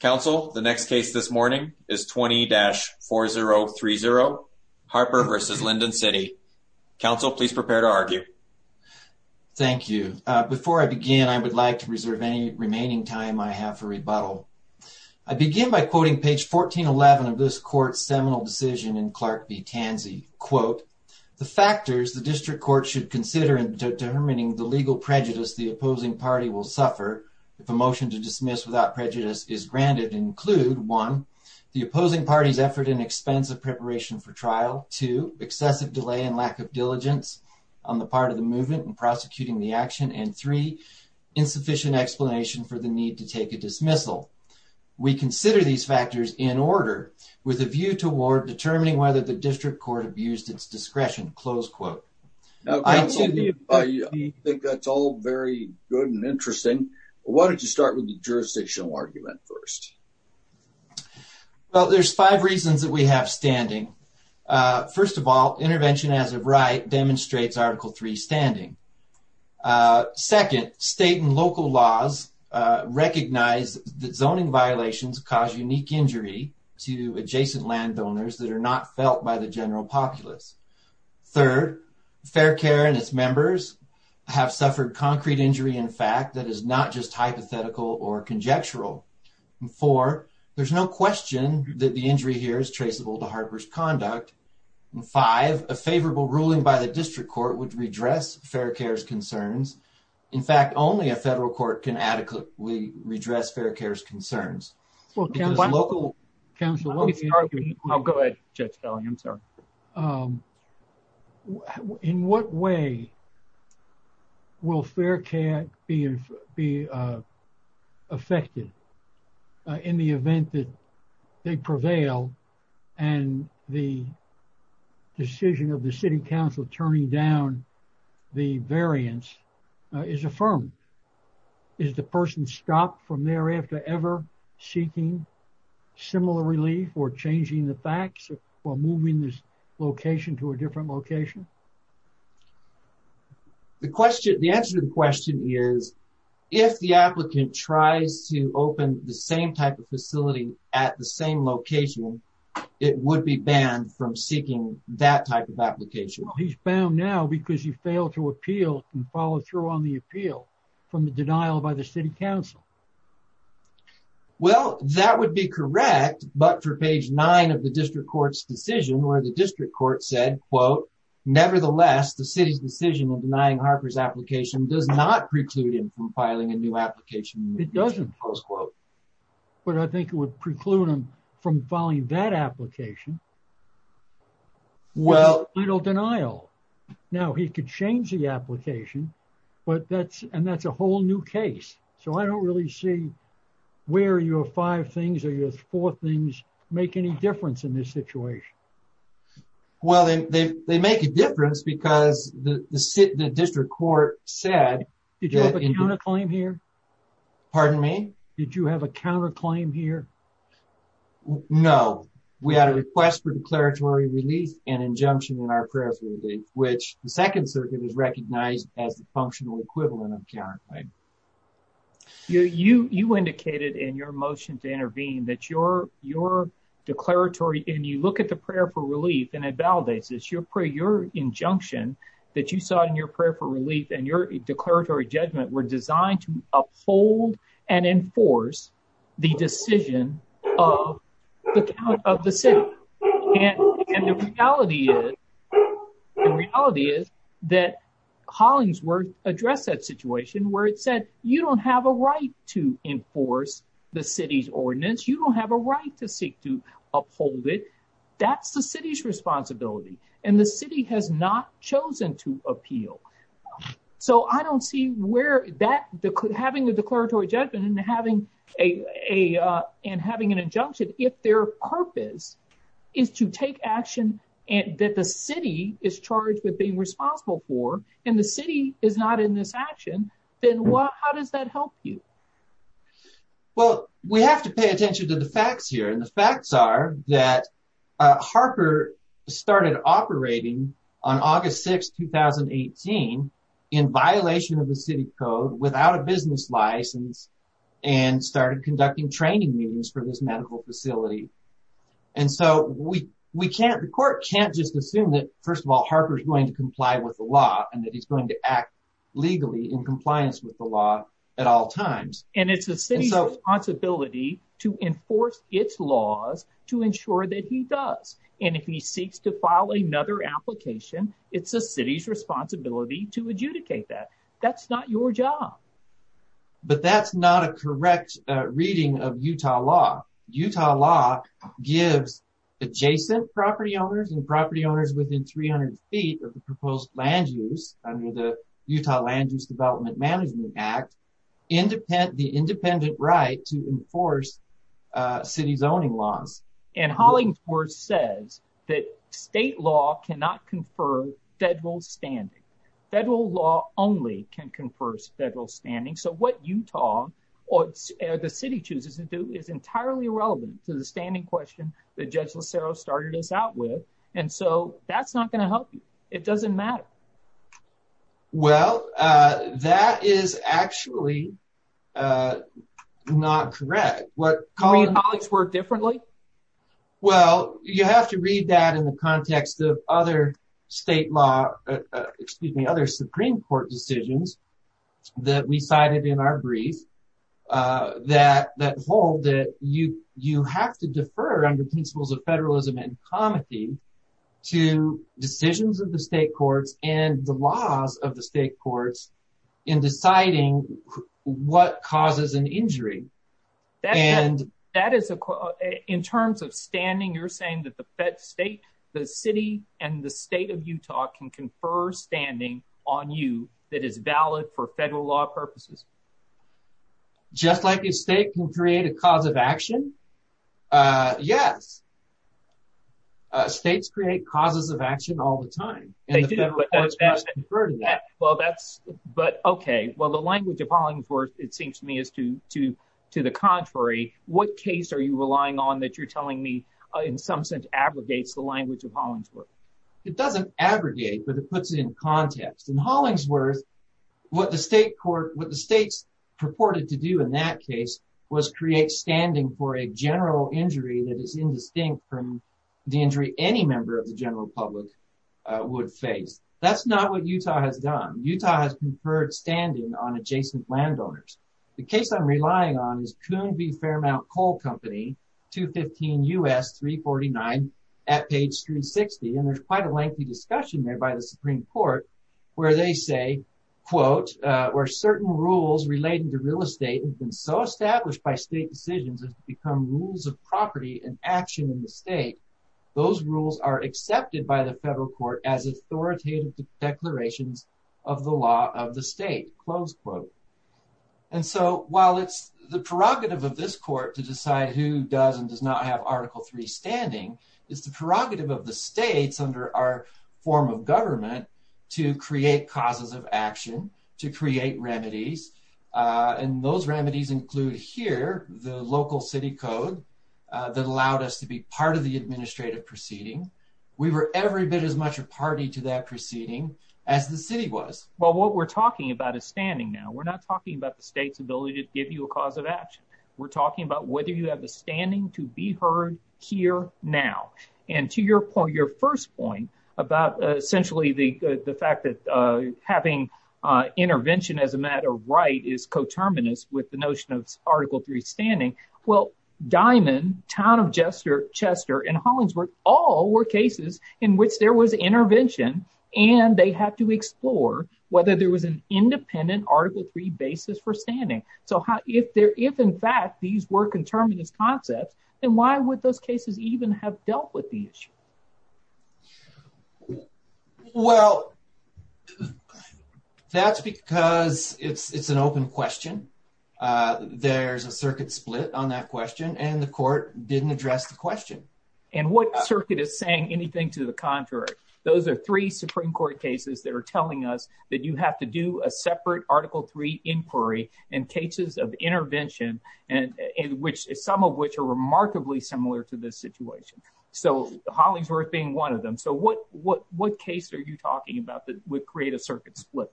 Counsel, the next case this morning is 20-4030, Harper v. Lindon City. Counsel, please prepare to argue. Thank you. Before I begin, I would like to reserve any remaining time I have for rebuttal. I begin by quoting page 1411 of this court's seminal decision in Clark v. Tansey. Quote, the factors the district court should consider in determining the legal prejudice the include one, the opposing parties effort and expense of preparation for trial, two, excessive delay and lack of diligence on the part of the movement in prosecuting the action, and three insufficient explanation for the need to take a dismissal. We consider these factors in order, with a view toward determining whether the district court abused its discretion, close quote. I think that's all very good and interesting. Why don't you start with the jurisdictional argument first? Well, there's five reasons that we have standing. First of all, intervention as of right demonstrates Article 3 standing. Second, state and local laws recognize that zoning violations cause unique injury to adjacent landowners that are not felt by the general populace. Third, Fair Care and its members have suffered concrete injury in fact that is not just hypothetical or conjectural. Four, there's no question that the injury here is traceable to harbors conduct. Five, a favorable ruling by the district court would redress Fair Care's concerns. In fact, only a federal court can adequately redress Fair Care's concerns. Well, counsel, let me start with you. I'll go ahead, Judge effective in the event that they prevail and the decision of the City Council turning down the variance is affirmed. Is the person stopped from thereafter ever seeking similar relief or changing the facts or moving this location to a place where the applicant tries to open the same type of facility at the same location? It would be banned from seeking that type of application. He's bound now because you fail to appeal and follow through on the appeal from the denial by the City Council. Well, that would be correct. But for page nine of the district court's decision where the district court said quote, Nevertheless, the city's decision of denying Harper's application does not preclude him from filing a new application. It doesn't close quote. But I think it would preclude him from following that application. Well, little denial. Now he could change the application, but that's and that's a whole new case. So I don't really see where your five things or your four things make any difference in this situation. Well, they make a difference because the district court said you don't want to have a counterclaim here. Pardon me? Did you have a counterclaim here? No, we had a request for declaratory release and injunction in our prayers, which the Second Circuit is recognized as the functional equivalent of counterclaim. You indicated in your motion to intervene that your declaratory and you look at the prayer for relief and it validates this. Your prayer, your injunction that you saw in your prayer for relief and your declaratory judgment were designed to uphold and enforce the decision of the count of the city. And the reality is, the reality is that Hollingsworth addressed that situation where it said you don't have a right to enforce the city's ordinance. You don't have a right to seek to uphold it. That's the city's appeal. So I don't see where that having a declaratory judgment and having an injunction, if their purpose is to take action and that the city is charged with being responsible for and the city is not in this action, then how does that help you? Well, we have to pay attention to the facts here. And the facts are that Harper started operating on August 6, 2018 in violation of the city code without a business license and started conducting training meetings for this medical facility. And so we can't, the court can't just assume that, first of all, Harper is going to comply with the law and that he's going to act legally in compliance with the law at all times. And it's the city's responsibility to enforce its laws to ensure that he does. And if he seeks to file another application, it's the city's responsibility to adjudicate that. That's not your job. But that's not a correct reading of Utah law. Utah law gives adjacent property owners and property owners within 300 feet of the proposed land use under the Utah Land Use Development Management Act, the independent right to enforce city zoning laws. And Hollingsworth says that state law cannot confer federal standing. Federal law only can confer federal standing. So what Utah or the city chooses to do is entirely irrelevant to the standing question that Judge Locero started us out with. And so that's not going to help you. It doesn't matter. Well, that is actually not correct. Do you mean Hollingsworth differently? Well, you have to read that in the context of other state law, excuse me, other Supreme Court decisions that we cited in our brief that hold that you have to defer under principles of federalism and comity to decisions of the state courts and the laws of the state courts in deciding what causes an injury. And that is in terms of standing, you're saying that the state, the city and the state of Utah can confer standing on you that is valid for federal law purposes? Just like a state can create a cause of action? Yes. States create causes of action all the time. They do, but that's, but OK, well, the language of Hollingsworth, it seems to me, is to the contrary. What case are you relying on that you're telling me in some sense abrogates the language of Hollingsworth? It doesn't abrogate, but it puts it in context. In Hollingsworth, what the state court, what the states purported to do in that case was create standing for a general injury that is indistinct from the injury any member of the general public would face. That's not what Utah has done. Utah has conferred standing on adjacent landowners. The case I'm relying on is Coon v. Fairmount Coal Company, 215 U.S. 349 at page 360. And there's quite a lengthy discussion there by the Supreme Court where they say, quote, where certain rules relating to real estate have been so established by state decisions as to become rules of property and action in the state. Those rules are accepted by the federal court as authoritative declarations of the law of the state, close quote. And so while it's the prerogative of this court to decide who does and does not have Article three standing is the prerogative of the states under our form of government to create causes of action, to create remedies. And those remedies include here the local city code that allowed us to be part of the administrative proceeding. We were every bit as much a party to that proceeding as the city was. Well, what we're talking about is standing now. We're not talking about the state's ability to give you a cause of action. We're talking about whether you have a standing to be heard here now. And to your point, your first point about essentially the fact that having intervention as a matter of right is coterminous with the notion of Article three standing. Well, Diamond, Town of Chester and Hollingsworth all were cases in which there was intervention and they had to explore whether there was an independent Article three basis for standing. So if in fact these were coterminous concepts, then why would those cases even have dealt with the issue? Well, that's because it's an open question. There's a circuit split on that question, and the court didn't address the question. And what circuit is saying anything to the contrary? Those are three Supreme Court cases that are telling us that you have to do a separate Article three inquiry and cases of intervention and which some of which are remarkably similar to this situation. So Hollingsworth being one of them. So what what what case are you talking about that would create a circuit split?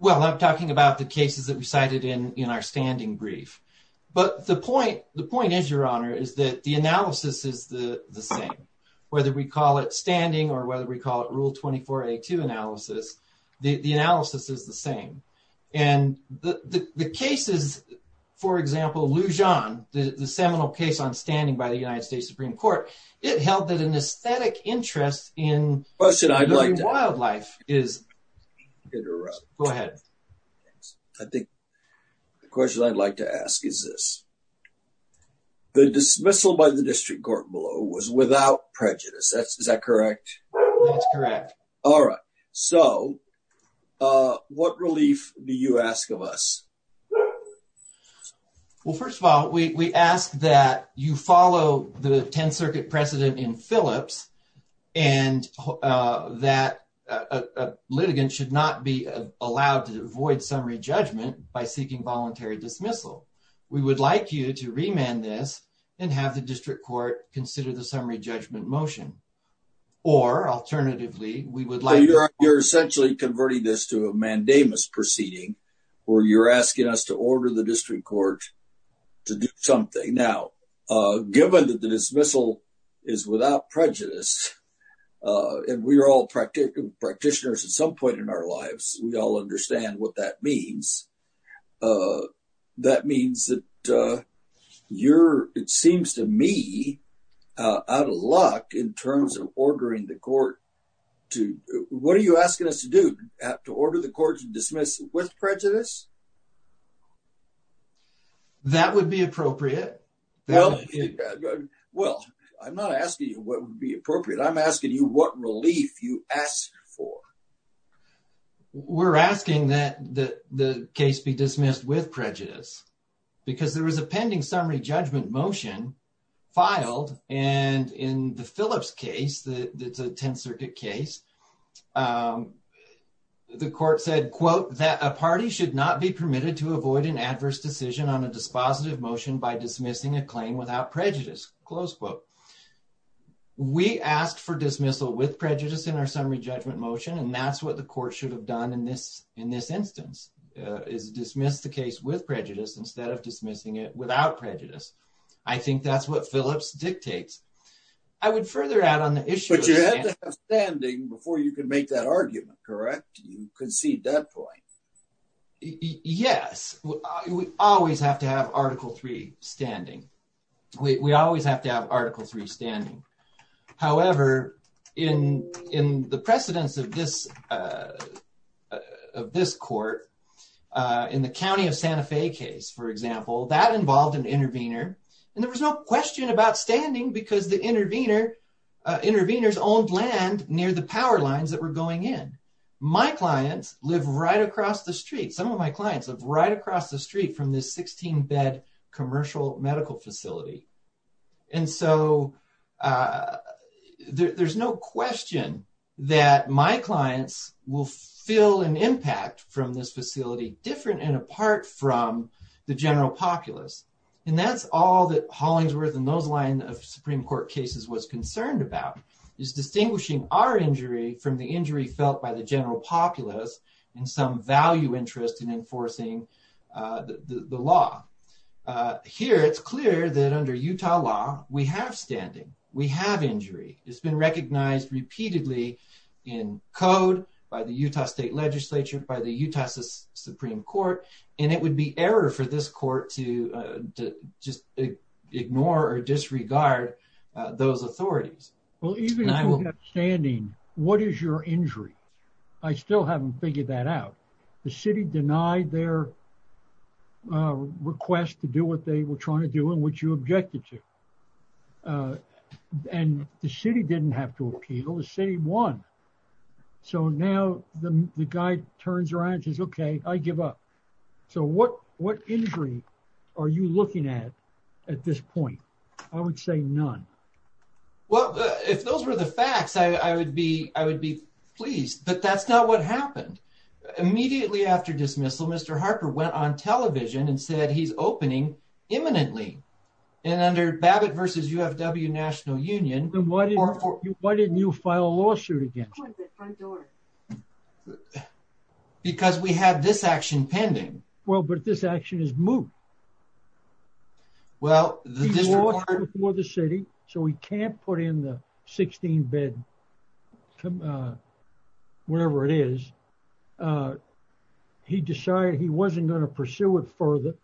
Well, I'm talking about the cases that we cited in in our standing brief, but the point the point is, your honor, is that the analysis is the same, whether we call it standing or whether we call it rule 2482 analysis, the analysis is the same. And the cases, for example, Lujan, the seminal case on standing by the United States Supreme Court, it held that an aesthetic interest in wildlife is interrupted. Go ahead. I think the question I'd like to ask is this. The dismissal by the district court below was without prejudice. Is that correct? That's correct. All right. So what relief do you ask of us? Well, first of all, we ask that you follow the 10th Circuit precedent in Phillips and that a litigant should not be allowed to avoid summary judgment by seeking voluntary dismissal. We would like you to remand this and have the district court consider the summary judgment motion. Or alternatively, we would like you're essentially converting this to a mandamus proceeding or you're asking us to order the district court to do something now, given that the dismissal is without prejudice and we are all practitioners at some point in our lives, we all understand what that means. That means that you're, it seems to me, out of luck in terms of ordering the court to what are you asking us to do, to order the court to dismiss with prejudice? That would be appropriate. Well, I'm not asking you what would be appropriate. I'm asking you what relief you asked for. We're asking that the case be dismissed with prejudice because there was a pending summary judgment motion filed and in the Phillips case, the 10th Circuit case, the court said, quote, that a party should not be permitted to avoid an adverse decision on a positive motion by dismissing a claim without prejudice. Close quote. We asked for dismissal with prejudice in our summary judgment motion, and that's what the court should have done in this in this instance is dismiss the case with prejudice instead of dismissing it without prejudice. I think that's what Phillips dictates. I would further add on the issue. But you have to have standing before you can make that argument, correct? You concede that point. Yes, we always have to have Article three standing, we always have to have Article three standing, however, in in the precedence of this of this court in the county of Santa Fe case, for example, that involved an intervener and there was no question about standing because the intervener interveners owned land near the power lines that were going in. My clients live right across the street. Some of my clients live right across the street from this 16 bed commercial medical facility. And so there's no question that my clients will feel an impact from this facility, different and apart from the general populace. And that's all that Hollingsworth and those line of Supreme Court cases was concerned about is distinguishing our injury from the injury felt by the general populace and some value interest in enforcing the law. Here, it's clear that under Utah law, we have standing, we have injury. It's been recognized repeatedly in code by the Utah state legislature, by the Utah Supreme Court. And it would be error for this court to just ignore or disregard those authorities. Well, even standing, what is your injury? I still haven't figured that out. The city denied their request to do what they were trying to do and what you objected to. And the city didn't have to appeal. The city won. So now the guy turns around, says, OK, I give up. So what what injury are you looking at at this point? I would say none. Well, if those were the facts, I would be I would be pleased, but that's not what happened. Immediately after dismissal, Mr. Harper went on television and said he's opening imminently. And under Babbitt versus UFW National Union. And why didn't you file a lawsuit against the front door? Because we had this action pending. Well, but this action is moved. Well, this is what the city so we can't put in the 16 bed, whatever it is, he decided he wasn't going to pursue it further.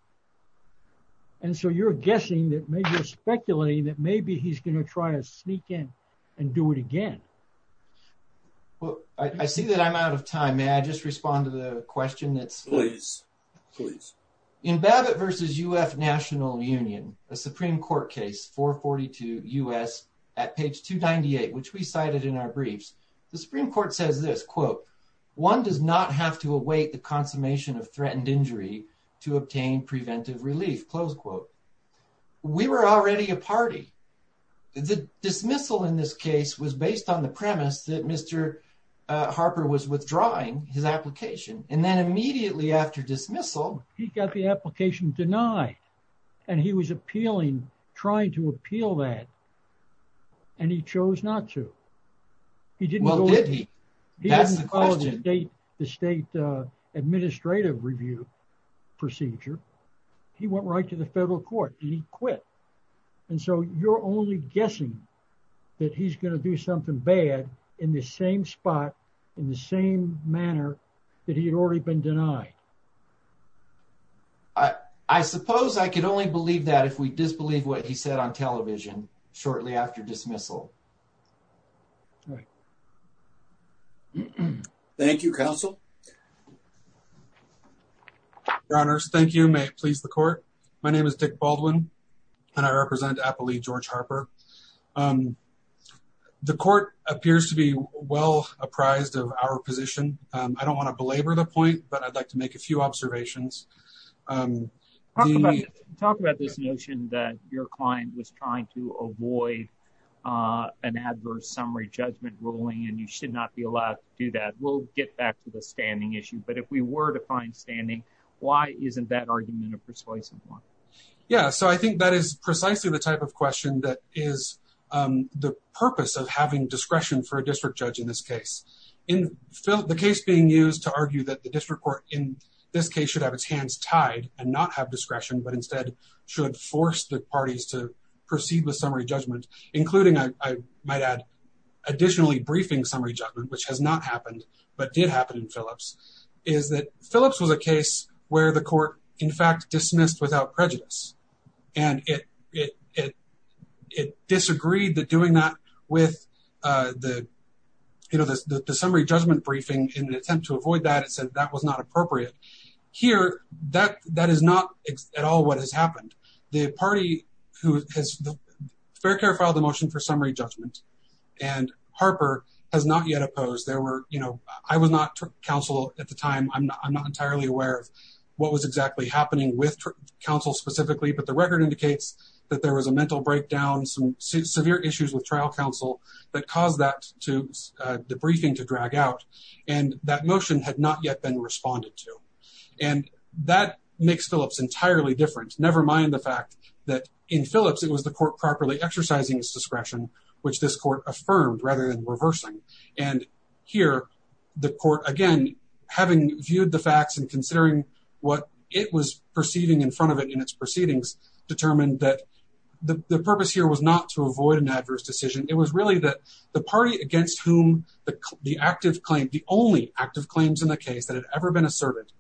And so you're guessing that maybe you're speculating that maybe he's going to try to sneak in and do it again. Well, I see that I'm out of time. May I just respond to the question? Please, please. In Babbitt versus UF National Union, a Supreme Court case for 42 U.S. at page 298, which we cited in our briefs, the Supreme Court says this, quote, one does not have to await the consummation of threatened injury to obtain preventive relief. Close quote. We were already a party. The dismissal in this case was based on the premise that Mr. Harper was withdrawing his application. And then immediately after dismissal, he got the application denied and he was appealing, trying to appeal that. And he chose not to. He didn't. Well, did he? That's the question. The state administrative review procedure, he went right to the federal court and he quit. And so you're only guessing that he's going to do something bad in the same spot, in the same manner that he had already been denied. I suppose I could only believe that if we disbelieve what he said on television shortly after dismissal. Thank you, counsel. Your honors, thank you. May it please the court. My name is Dick Baldwin and I represent, I believe, George Harper. The court appears to be well apprised of our position. I don't want to belabor the point, but I'd like to make a few observations. Talk about this notion that your client was trying to avoid an adverse summary judgment ruling and you should not be allowed to do that. We'll get back to the standing issue. But if we were to find standing, why isn't that argument a persuasive one? Yeah. So I think that is precisely the type of question that is being asked. It is the purpose of having discretion for a district judge in this case. In the case being used to argue that the district court in this case should have its hands tied and not have discretion, but instead should force the parties to proceed with summary judgment, including, I might add, additionally briefing summary judgment, which has not happened, but did happen in Phillips, is that Phillips was a case where the court, in fact, dismissed without prejudice. And it disagreed that doing that with the summary judgment briefing in an attempt to avoid that, it said that was not appropriate. Here, that is not at all what has happened. The party who has fair care filed a motion for summary judgment and Harper has not yet opposed. I was not counsel at the time. I'm not entirely aware of what was exactly happening with counsel specifically, but the record indicates that there was a mental breakdown, some severe issues with trial counsel that caused that to debriefing to drag out. And that motion had not yet been responded to. And that makes Phillips entirely different. Never mind the fact that in Phillips, it was the court properly exercising its discretion, which this court affirmed rather than reversing. And here the court, again, having viewed the facts and considering what it was perceiving in front of it in its proceedings, determined that the purpose here was not to avoid an adverse decision. It was really that the party against whom the active claim, the only active claims in the case that had ever been asserted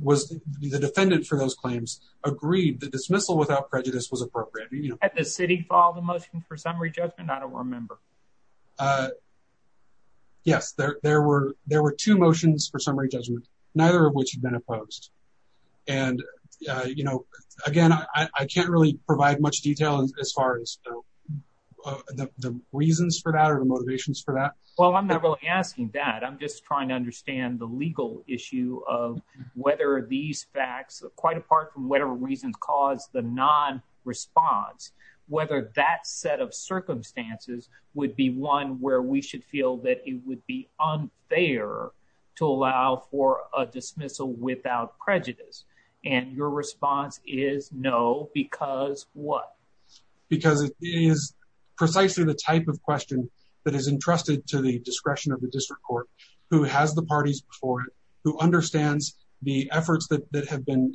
was the defendant for those claims agreed. The dismissal without prejudice was appropriate at the city for the motion for summary judgment. I don't remember. Yes, there were there were two motions for summary judgment, neither of which had been opposed. And, you know, again, I can't really provide much detail as far as the reasons for that or the motivations for that. Well, I'm not really asking that. I'm just trying to understand the legal issue of whether these facts, quite apart from whatever reasons caused the non-response, whether that set of circumstances would be one where we should feel that it would be unfair to allow for a dismissal without prejudice. And your response is no, because what? Because it is precisely the type of question that is entrusted to the discretion of the district court, who has the parties before it, who understands the efforts that have been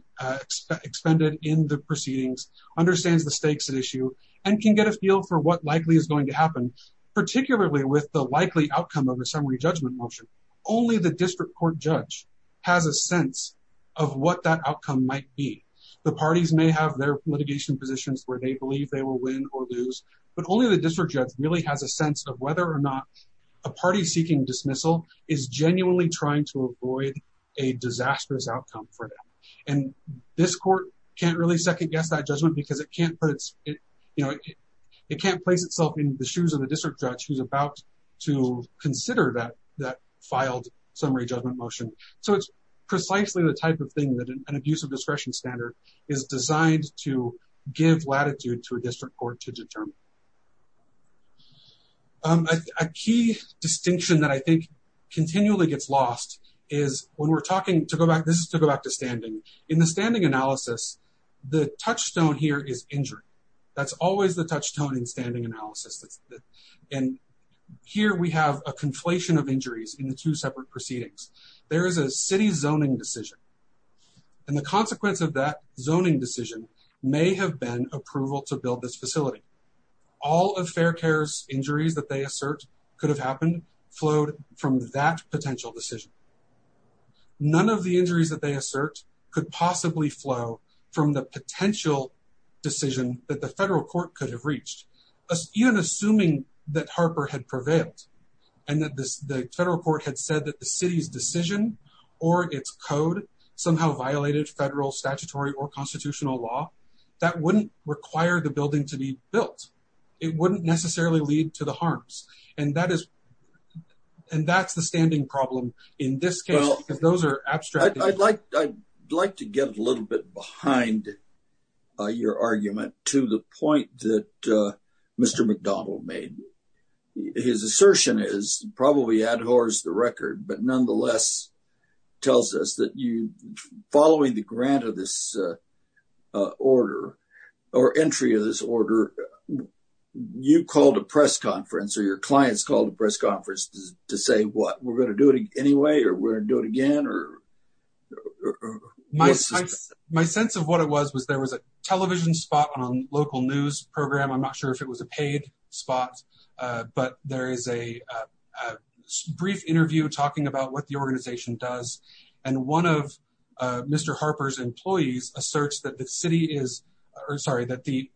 expended in the proceedings, understands the stakes at issue and can get a feel for what likely is going to happen, particularly with the likely outcome of a summary judgment motion. Only the district court judge has a sense of what that outcome might be. The parties may have their litigation positions where they believe they will win or lose, but only the district judge really has a sense of whether or not a party seeking dismissal is genuinely trying to avoid a disastrous outcome for them. And this court can't really second guess that judgment because it can't put its, you know, it can't place itself in the shoes of the district judge who's about to consider that that filed summary judgment motion. So it's precisely the type of thing that an abuse of discretion standard is designed to give latitude to a district court to determine. A key distinction that I think continually gets lost is when we're talking to go back, this is to go back to standing in the standing analysis. The touchstone here is injury. That's always the touchstone in standing analysis. And here we have a conflation of injuries in the two separate proceedings. There is a city zoning decision and the consequence of that zoning decision may have been approval to build this facility. All of Fair Care's injuries that they assert could have happened flowed from that potential decision. None of the injuries that they assert could possibly flow from the potential decision that the federal court could have reached. Even assuming that Harper had prevailed and that the federal court had said that the city's decision or its code somehow violated federal statutory or constitutional law, that wouldn't require the building to be built. It wouldn't necessarily lead to the harms. And that is and that's the standing problem in this case, because those are abstract. I'd like to get a little bit behind your argument to the point that Mr. McDonald made. His assertion is probably ad hors the record, but nonetheless tells us that you following the grant of this order or entry of this order, you called a press conference or your clients called a press conference to say, what, we're going to do it anyway, or we're going to do it again? My sense of what it was, was there was a television spot on local news program. I'm not sure if it was a paid spot, but there is a brief interview talking about what the organization does. And one of Mr. Harper's employees asserts that the city is, or sorry, that he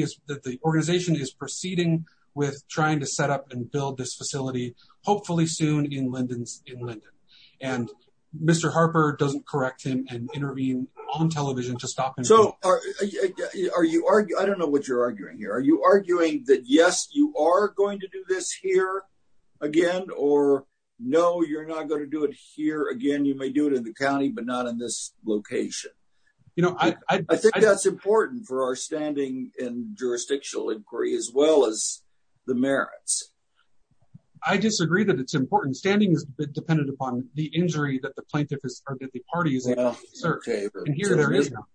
is, that the organization is proceeding with trying to set up and build this facility, hopefully soon in Linden, in Linden. And Mr. Harper doesn't correct him and intervene on television to stop him. So are you, I don't know what you're arguing here. Are you arguing that, yes, you are going to do this here again, or no, you're not going to do it here again? You may do it in the county, but not in this location. You know, I think that's important for our standing in jurisdictional inquiry, as well as the merits. I disagree that it's important. Standing is dependent upon the injury that the plaintiff is or that the party is. And here there is no.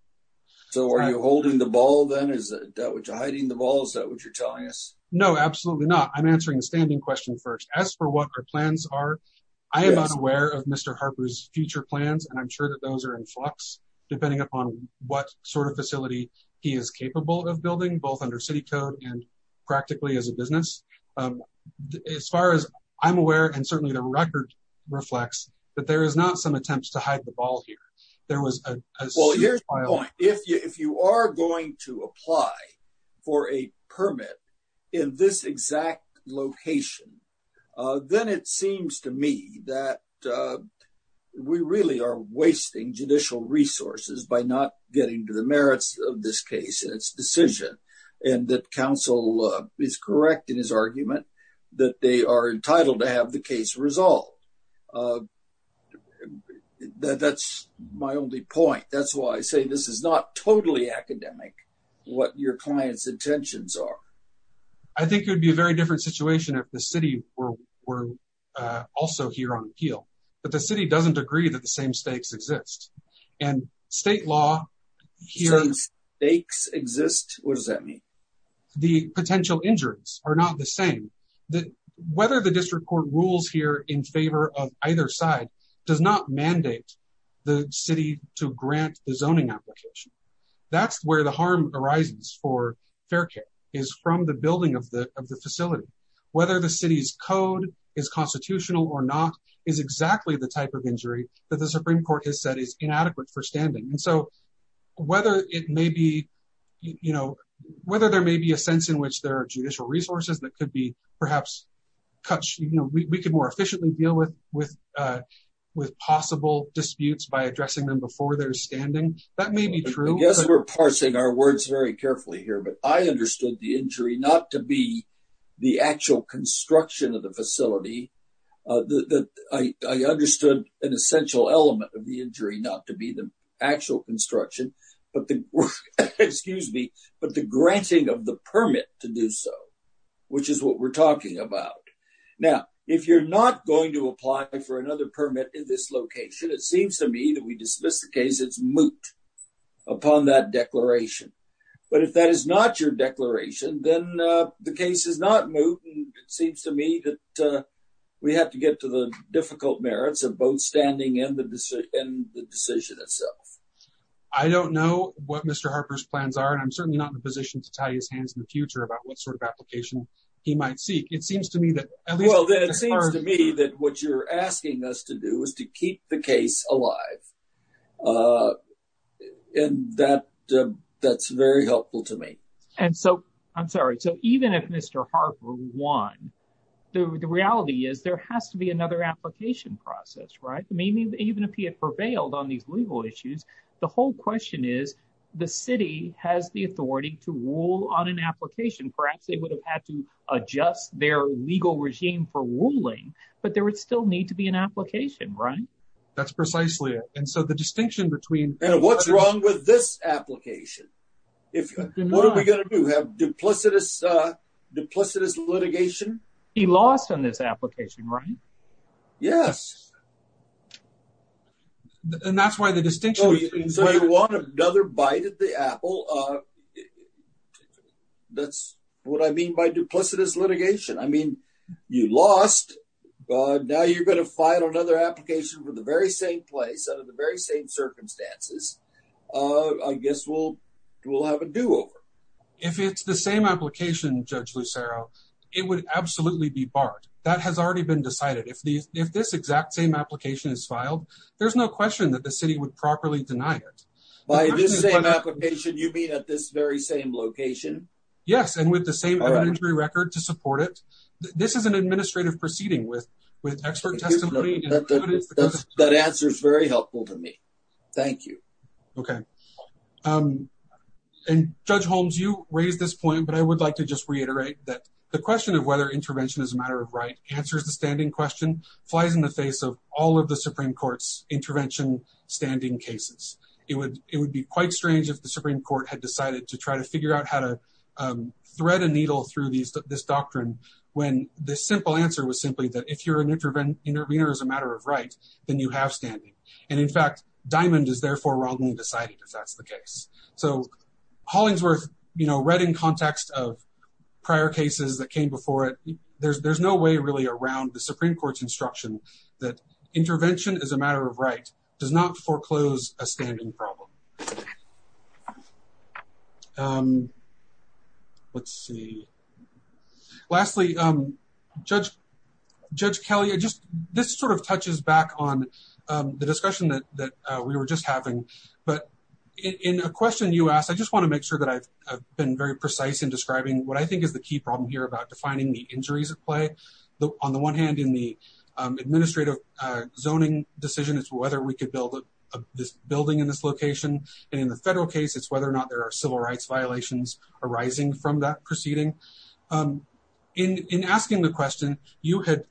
So are you holding the ball then? Is that what you're hiding the ball? Is that what you're telling us? No, absolutely not. I'm answering the standing question first. As for what our plans are, I am unaware of Mr. Harper's future plans, and I'm sure that those are in flux. Depending upon what sort of facility he is capable of building, both under city code and practically as a business. As far as I'm aware, and certainly the record reflects that there is not some attempts to hide the ball here. There was a well, here's my point. If you if you are going to apply for a permit in this exact location, then it seems to me that we really are wasting judicial resources by not getting to the merits of this case and its decision. And that counsel is correct in his argument that they are entitled to have the case resolved. That's my only point. That's why I say this is not totally academic, what your client's intentions are. I think it would be a very different situation if the city were also here on appeal, but the city doesn't agree that the same stakes exist and state law here. Some stakes exist? What does that mean? The potential injuries are not the same. That whether the district court rules here in favor of either side does not mandate the city to grant the zoning application. That's where the harm arises for fair care is from the building of the of the facility, whether the city's code is constitutional or not, is exactly the type of injury that the Supreme Court has said is inadequate for standing. And so whether it may be, you know, whether there may be a sense in which there are judicial resources that could be perhaps cut, you know, we could more efficiently deal with with with possible disputes by addressing them before their standing. That may be true. I guess we're parsing our words very carefully here, but I understood the injury not to be the actual construction of the facility that I understood an essential element of the injury, not to be the actual construction, but the excuse me, but the granting of the permit to do so, which is what we're talking about. Now, if you're not going to apply for another permit in this location, it seems to me that we dismiss the case. It's moot upon that declaration. But if that is not your declaration, then the case is not moot. And it seems to me that we have to get to the difficult merits of both standing in the decision and the decision itself. I don't know what Mr. Harper's plans are, and I'm certainly not in a position to tie his hands in the future about what sort of application he might seek. It seems to me that well, then it seems to me that what you're asking us to do is to keep the case alive, and that's very helpful to me. And so, I'm sorry, so even if Mr. Harper won, the reality is there has to be another application process, right? I mean, even if he had prevailed on these legal issues, the whole question is the city has the authority to rule on an application. Perhaps they would have had to adjust their legal regime for ruling, but there would still need to be an application, right? That's precisely it. And so, the distinction between- And what's wrong with this application? What are we going to do? Have duplicitous litigation? He lost on this application, right? Yes. And that's why the distinction- So, you want another bite at the apple. That's what I mean by duplicitous litigation. You lost, but now you're going to file another application for the very same place, under the very same circumstances. I guess we'll have a do-over. If it's the same application, Judge Lucero, it would absolutely be barred. That has already been decided. If this exact same application is filed, there's no question that the city would properly deny it. By this same application, you mean at this very same location? Yes, and with the same evidentiary record to support it. This is an administrative proceeding with expert testimony. That answer is very helpful to me. Thank you. Okay. And Judge Holmes, you raised this point, but I would like to just reiterate that the question of whether intervention is a matter of right answers the standing question, flies in the face of all of the Supreme Court's intervention standing cases. It would be quite strange if the Supreme Court had decided to try to figure out how to thread a needle through this doctrine when the simple answer was simply that if you're an intervener as a matter of right, then you have standing. And in fact, Diamond is therefore wrongly decided if that's the case. So Hollingsworth, you know, read in context of prior cases that came before it, there's no way really around the Supreme Court's instruction that intervention as a matter of right does not foreclose a standing problem. Okay. Let's see. Lastly, Judge Kelly, this sort of touches back on the discussion that we were just having. But in a question you asked, I just want to make sure that I've been very precise in describing what I think is the key problem here about defining the injuries at play. On the one hand, in the administrative zoning decision, it's whether we could build this location. And in the federal case, it's whether or not there are civil rights violations arising from that proceeding. In asking the question, you had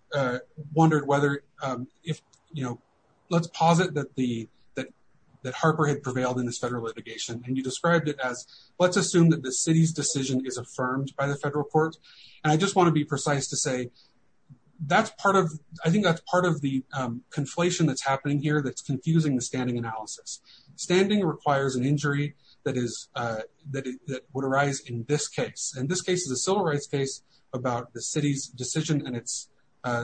wondered whether, you know, let's posit that Harper had prevailed in this federal litigation. And you described it as, let's assume that the city's decision is affirmed by the federal court. And I just want to be precise to say, I think that's part of the conflation that's happening here that's confusing the standing analysis. Standing requires an injury that would arise in this case. And this case is a civil rights case about the city's decision and its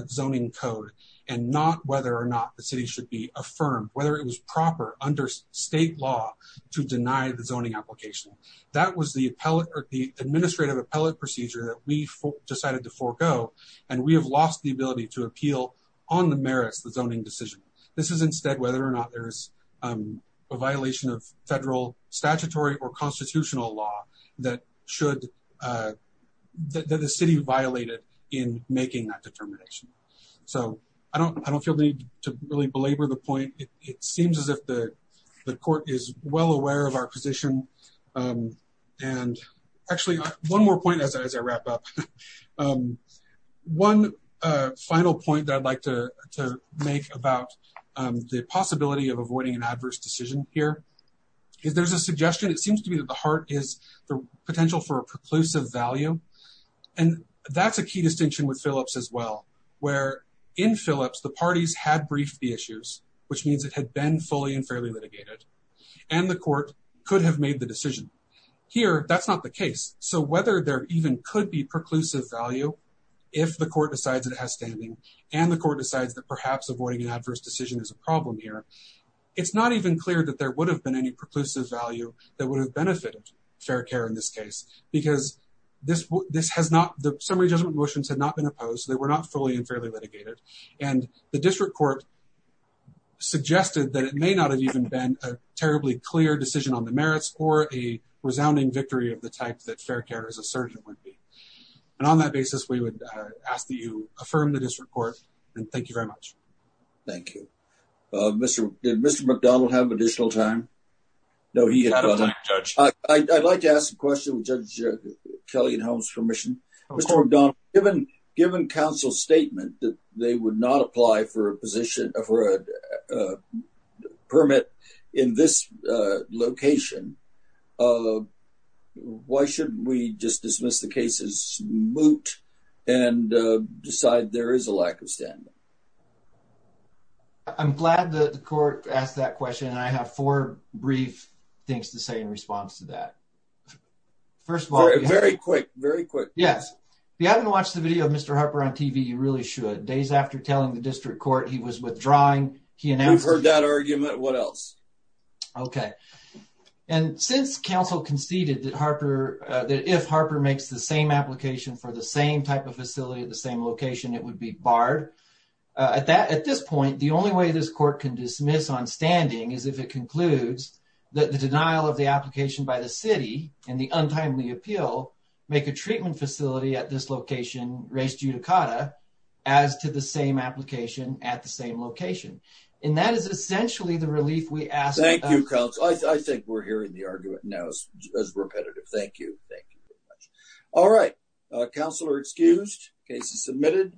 zoning code, and not whether or not the city should be affirmed, whether it was proper under state law to deny the zoning application. That was the administrative appellate procedure that we decided to forego. And we have lost the ability to appeal on the merits of the zoning decision. This is instead whether or not there's a violation of federal statutory or constitutional law that should, that the city violated in making that determination. So I don't feel the need to really belabor the point. It seems as if the court is well aware of our position. And actually, one more point as I wrap up. One final point that I'd like to make about the possibility of avoiding an adverse decision here is there's a suggestion. It seems to me that the heart is the potential for a preclusive value. And that's a key distinction with Phillips as well, where in Phillips, the parties had briefed the issues, which means it had been fully and fairly litigated, and the court could have made the decision. Here, that's not the case. So whether there even could be preclusive value, if the court decides it has standing and the court decides that perhaps avoiding an adverse decision is a problem here, it's not even clear that there would have been any preclusive value that would have benefited fair care in this case. Because this has not, the summary judgment motions had not been opposed. They were not fully and fairly litigated. And the district court suggested that it may not have even been a terribly clear decision on the merits or a resounding victory of the type that fair care as a surgeon would be. And on that basis, we would ask that you affirm the district court. And thank you very much. Thank you, Mr. Did Mr. McDonald have additional time? No, he had a judge. I'd like to ask a question with Judge Kelly and Holmes permission, Mr. McDonald, given given counsel statement that they would not apply for a position for a in this location. Why should we just dismiss the cases moot and decide there is a lack of standing? I'm glad that the court asked that question. And I have four brief things to say in response to that. First of all, very quick, very quick. Yes. If you haven't watched the video of Mr. Harper on TV, you really should. Days after telling the district court he was withdrawing, he announced that argument. What else? Okay. And since counsel conceded that Harper, that if Harper makes the same application for the same type of facility at the same location, it would be barred at that. At this point, the only way this court can dismiss on standing is if it concludes that the denial of the application by the city and the untimely appeal make a treatment facility at this location raised judicata as to the same application at the same location. And that is essentially the relief we ask. Thank you, counsel. I think we're hearing the argument now as repetitive. Thank you. Thank you very much. All right. Counselor excused. Case is submitted.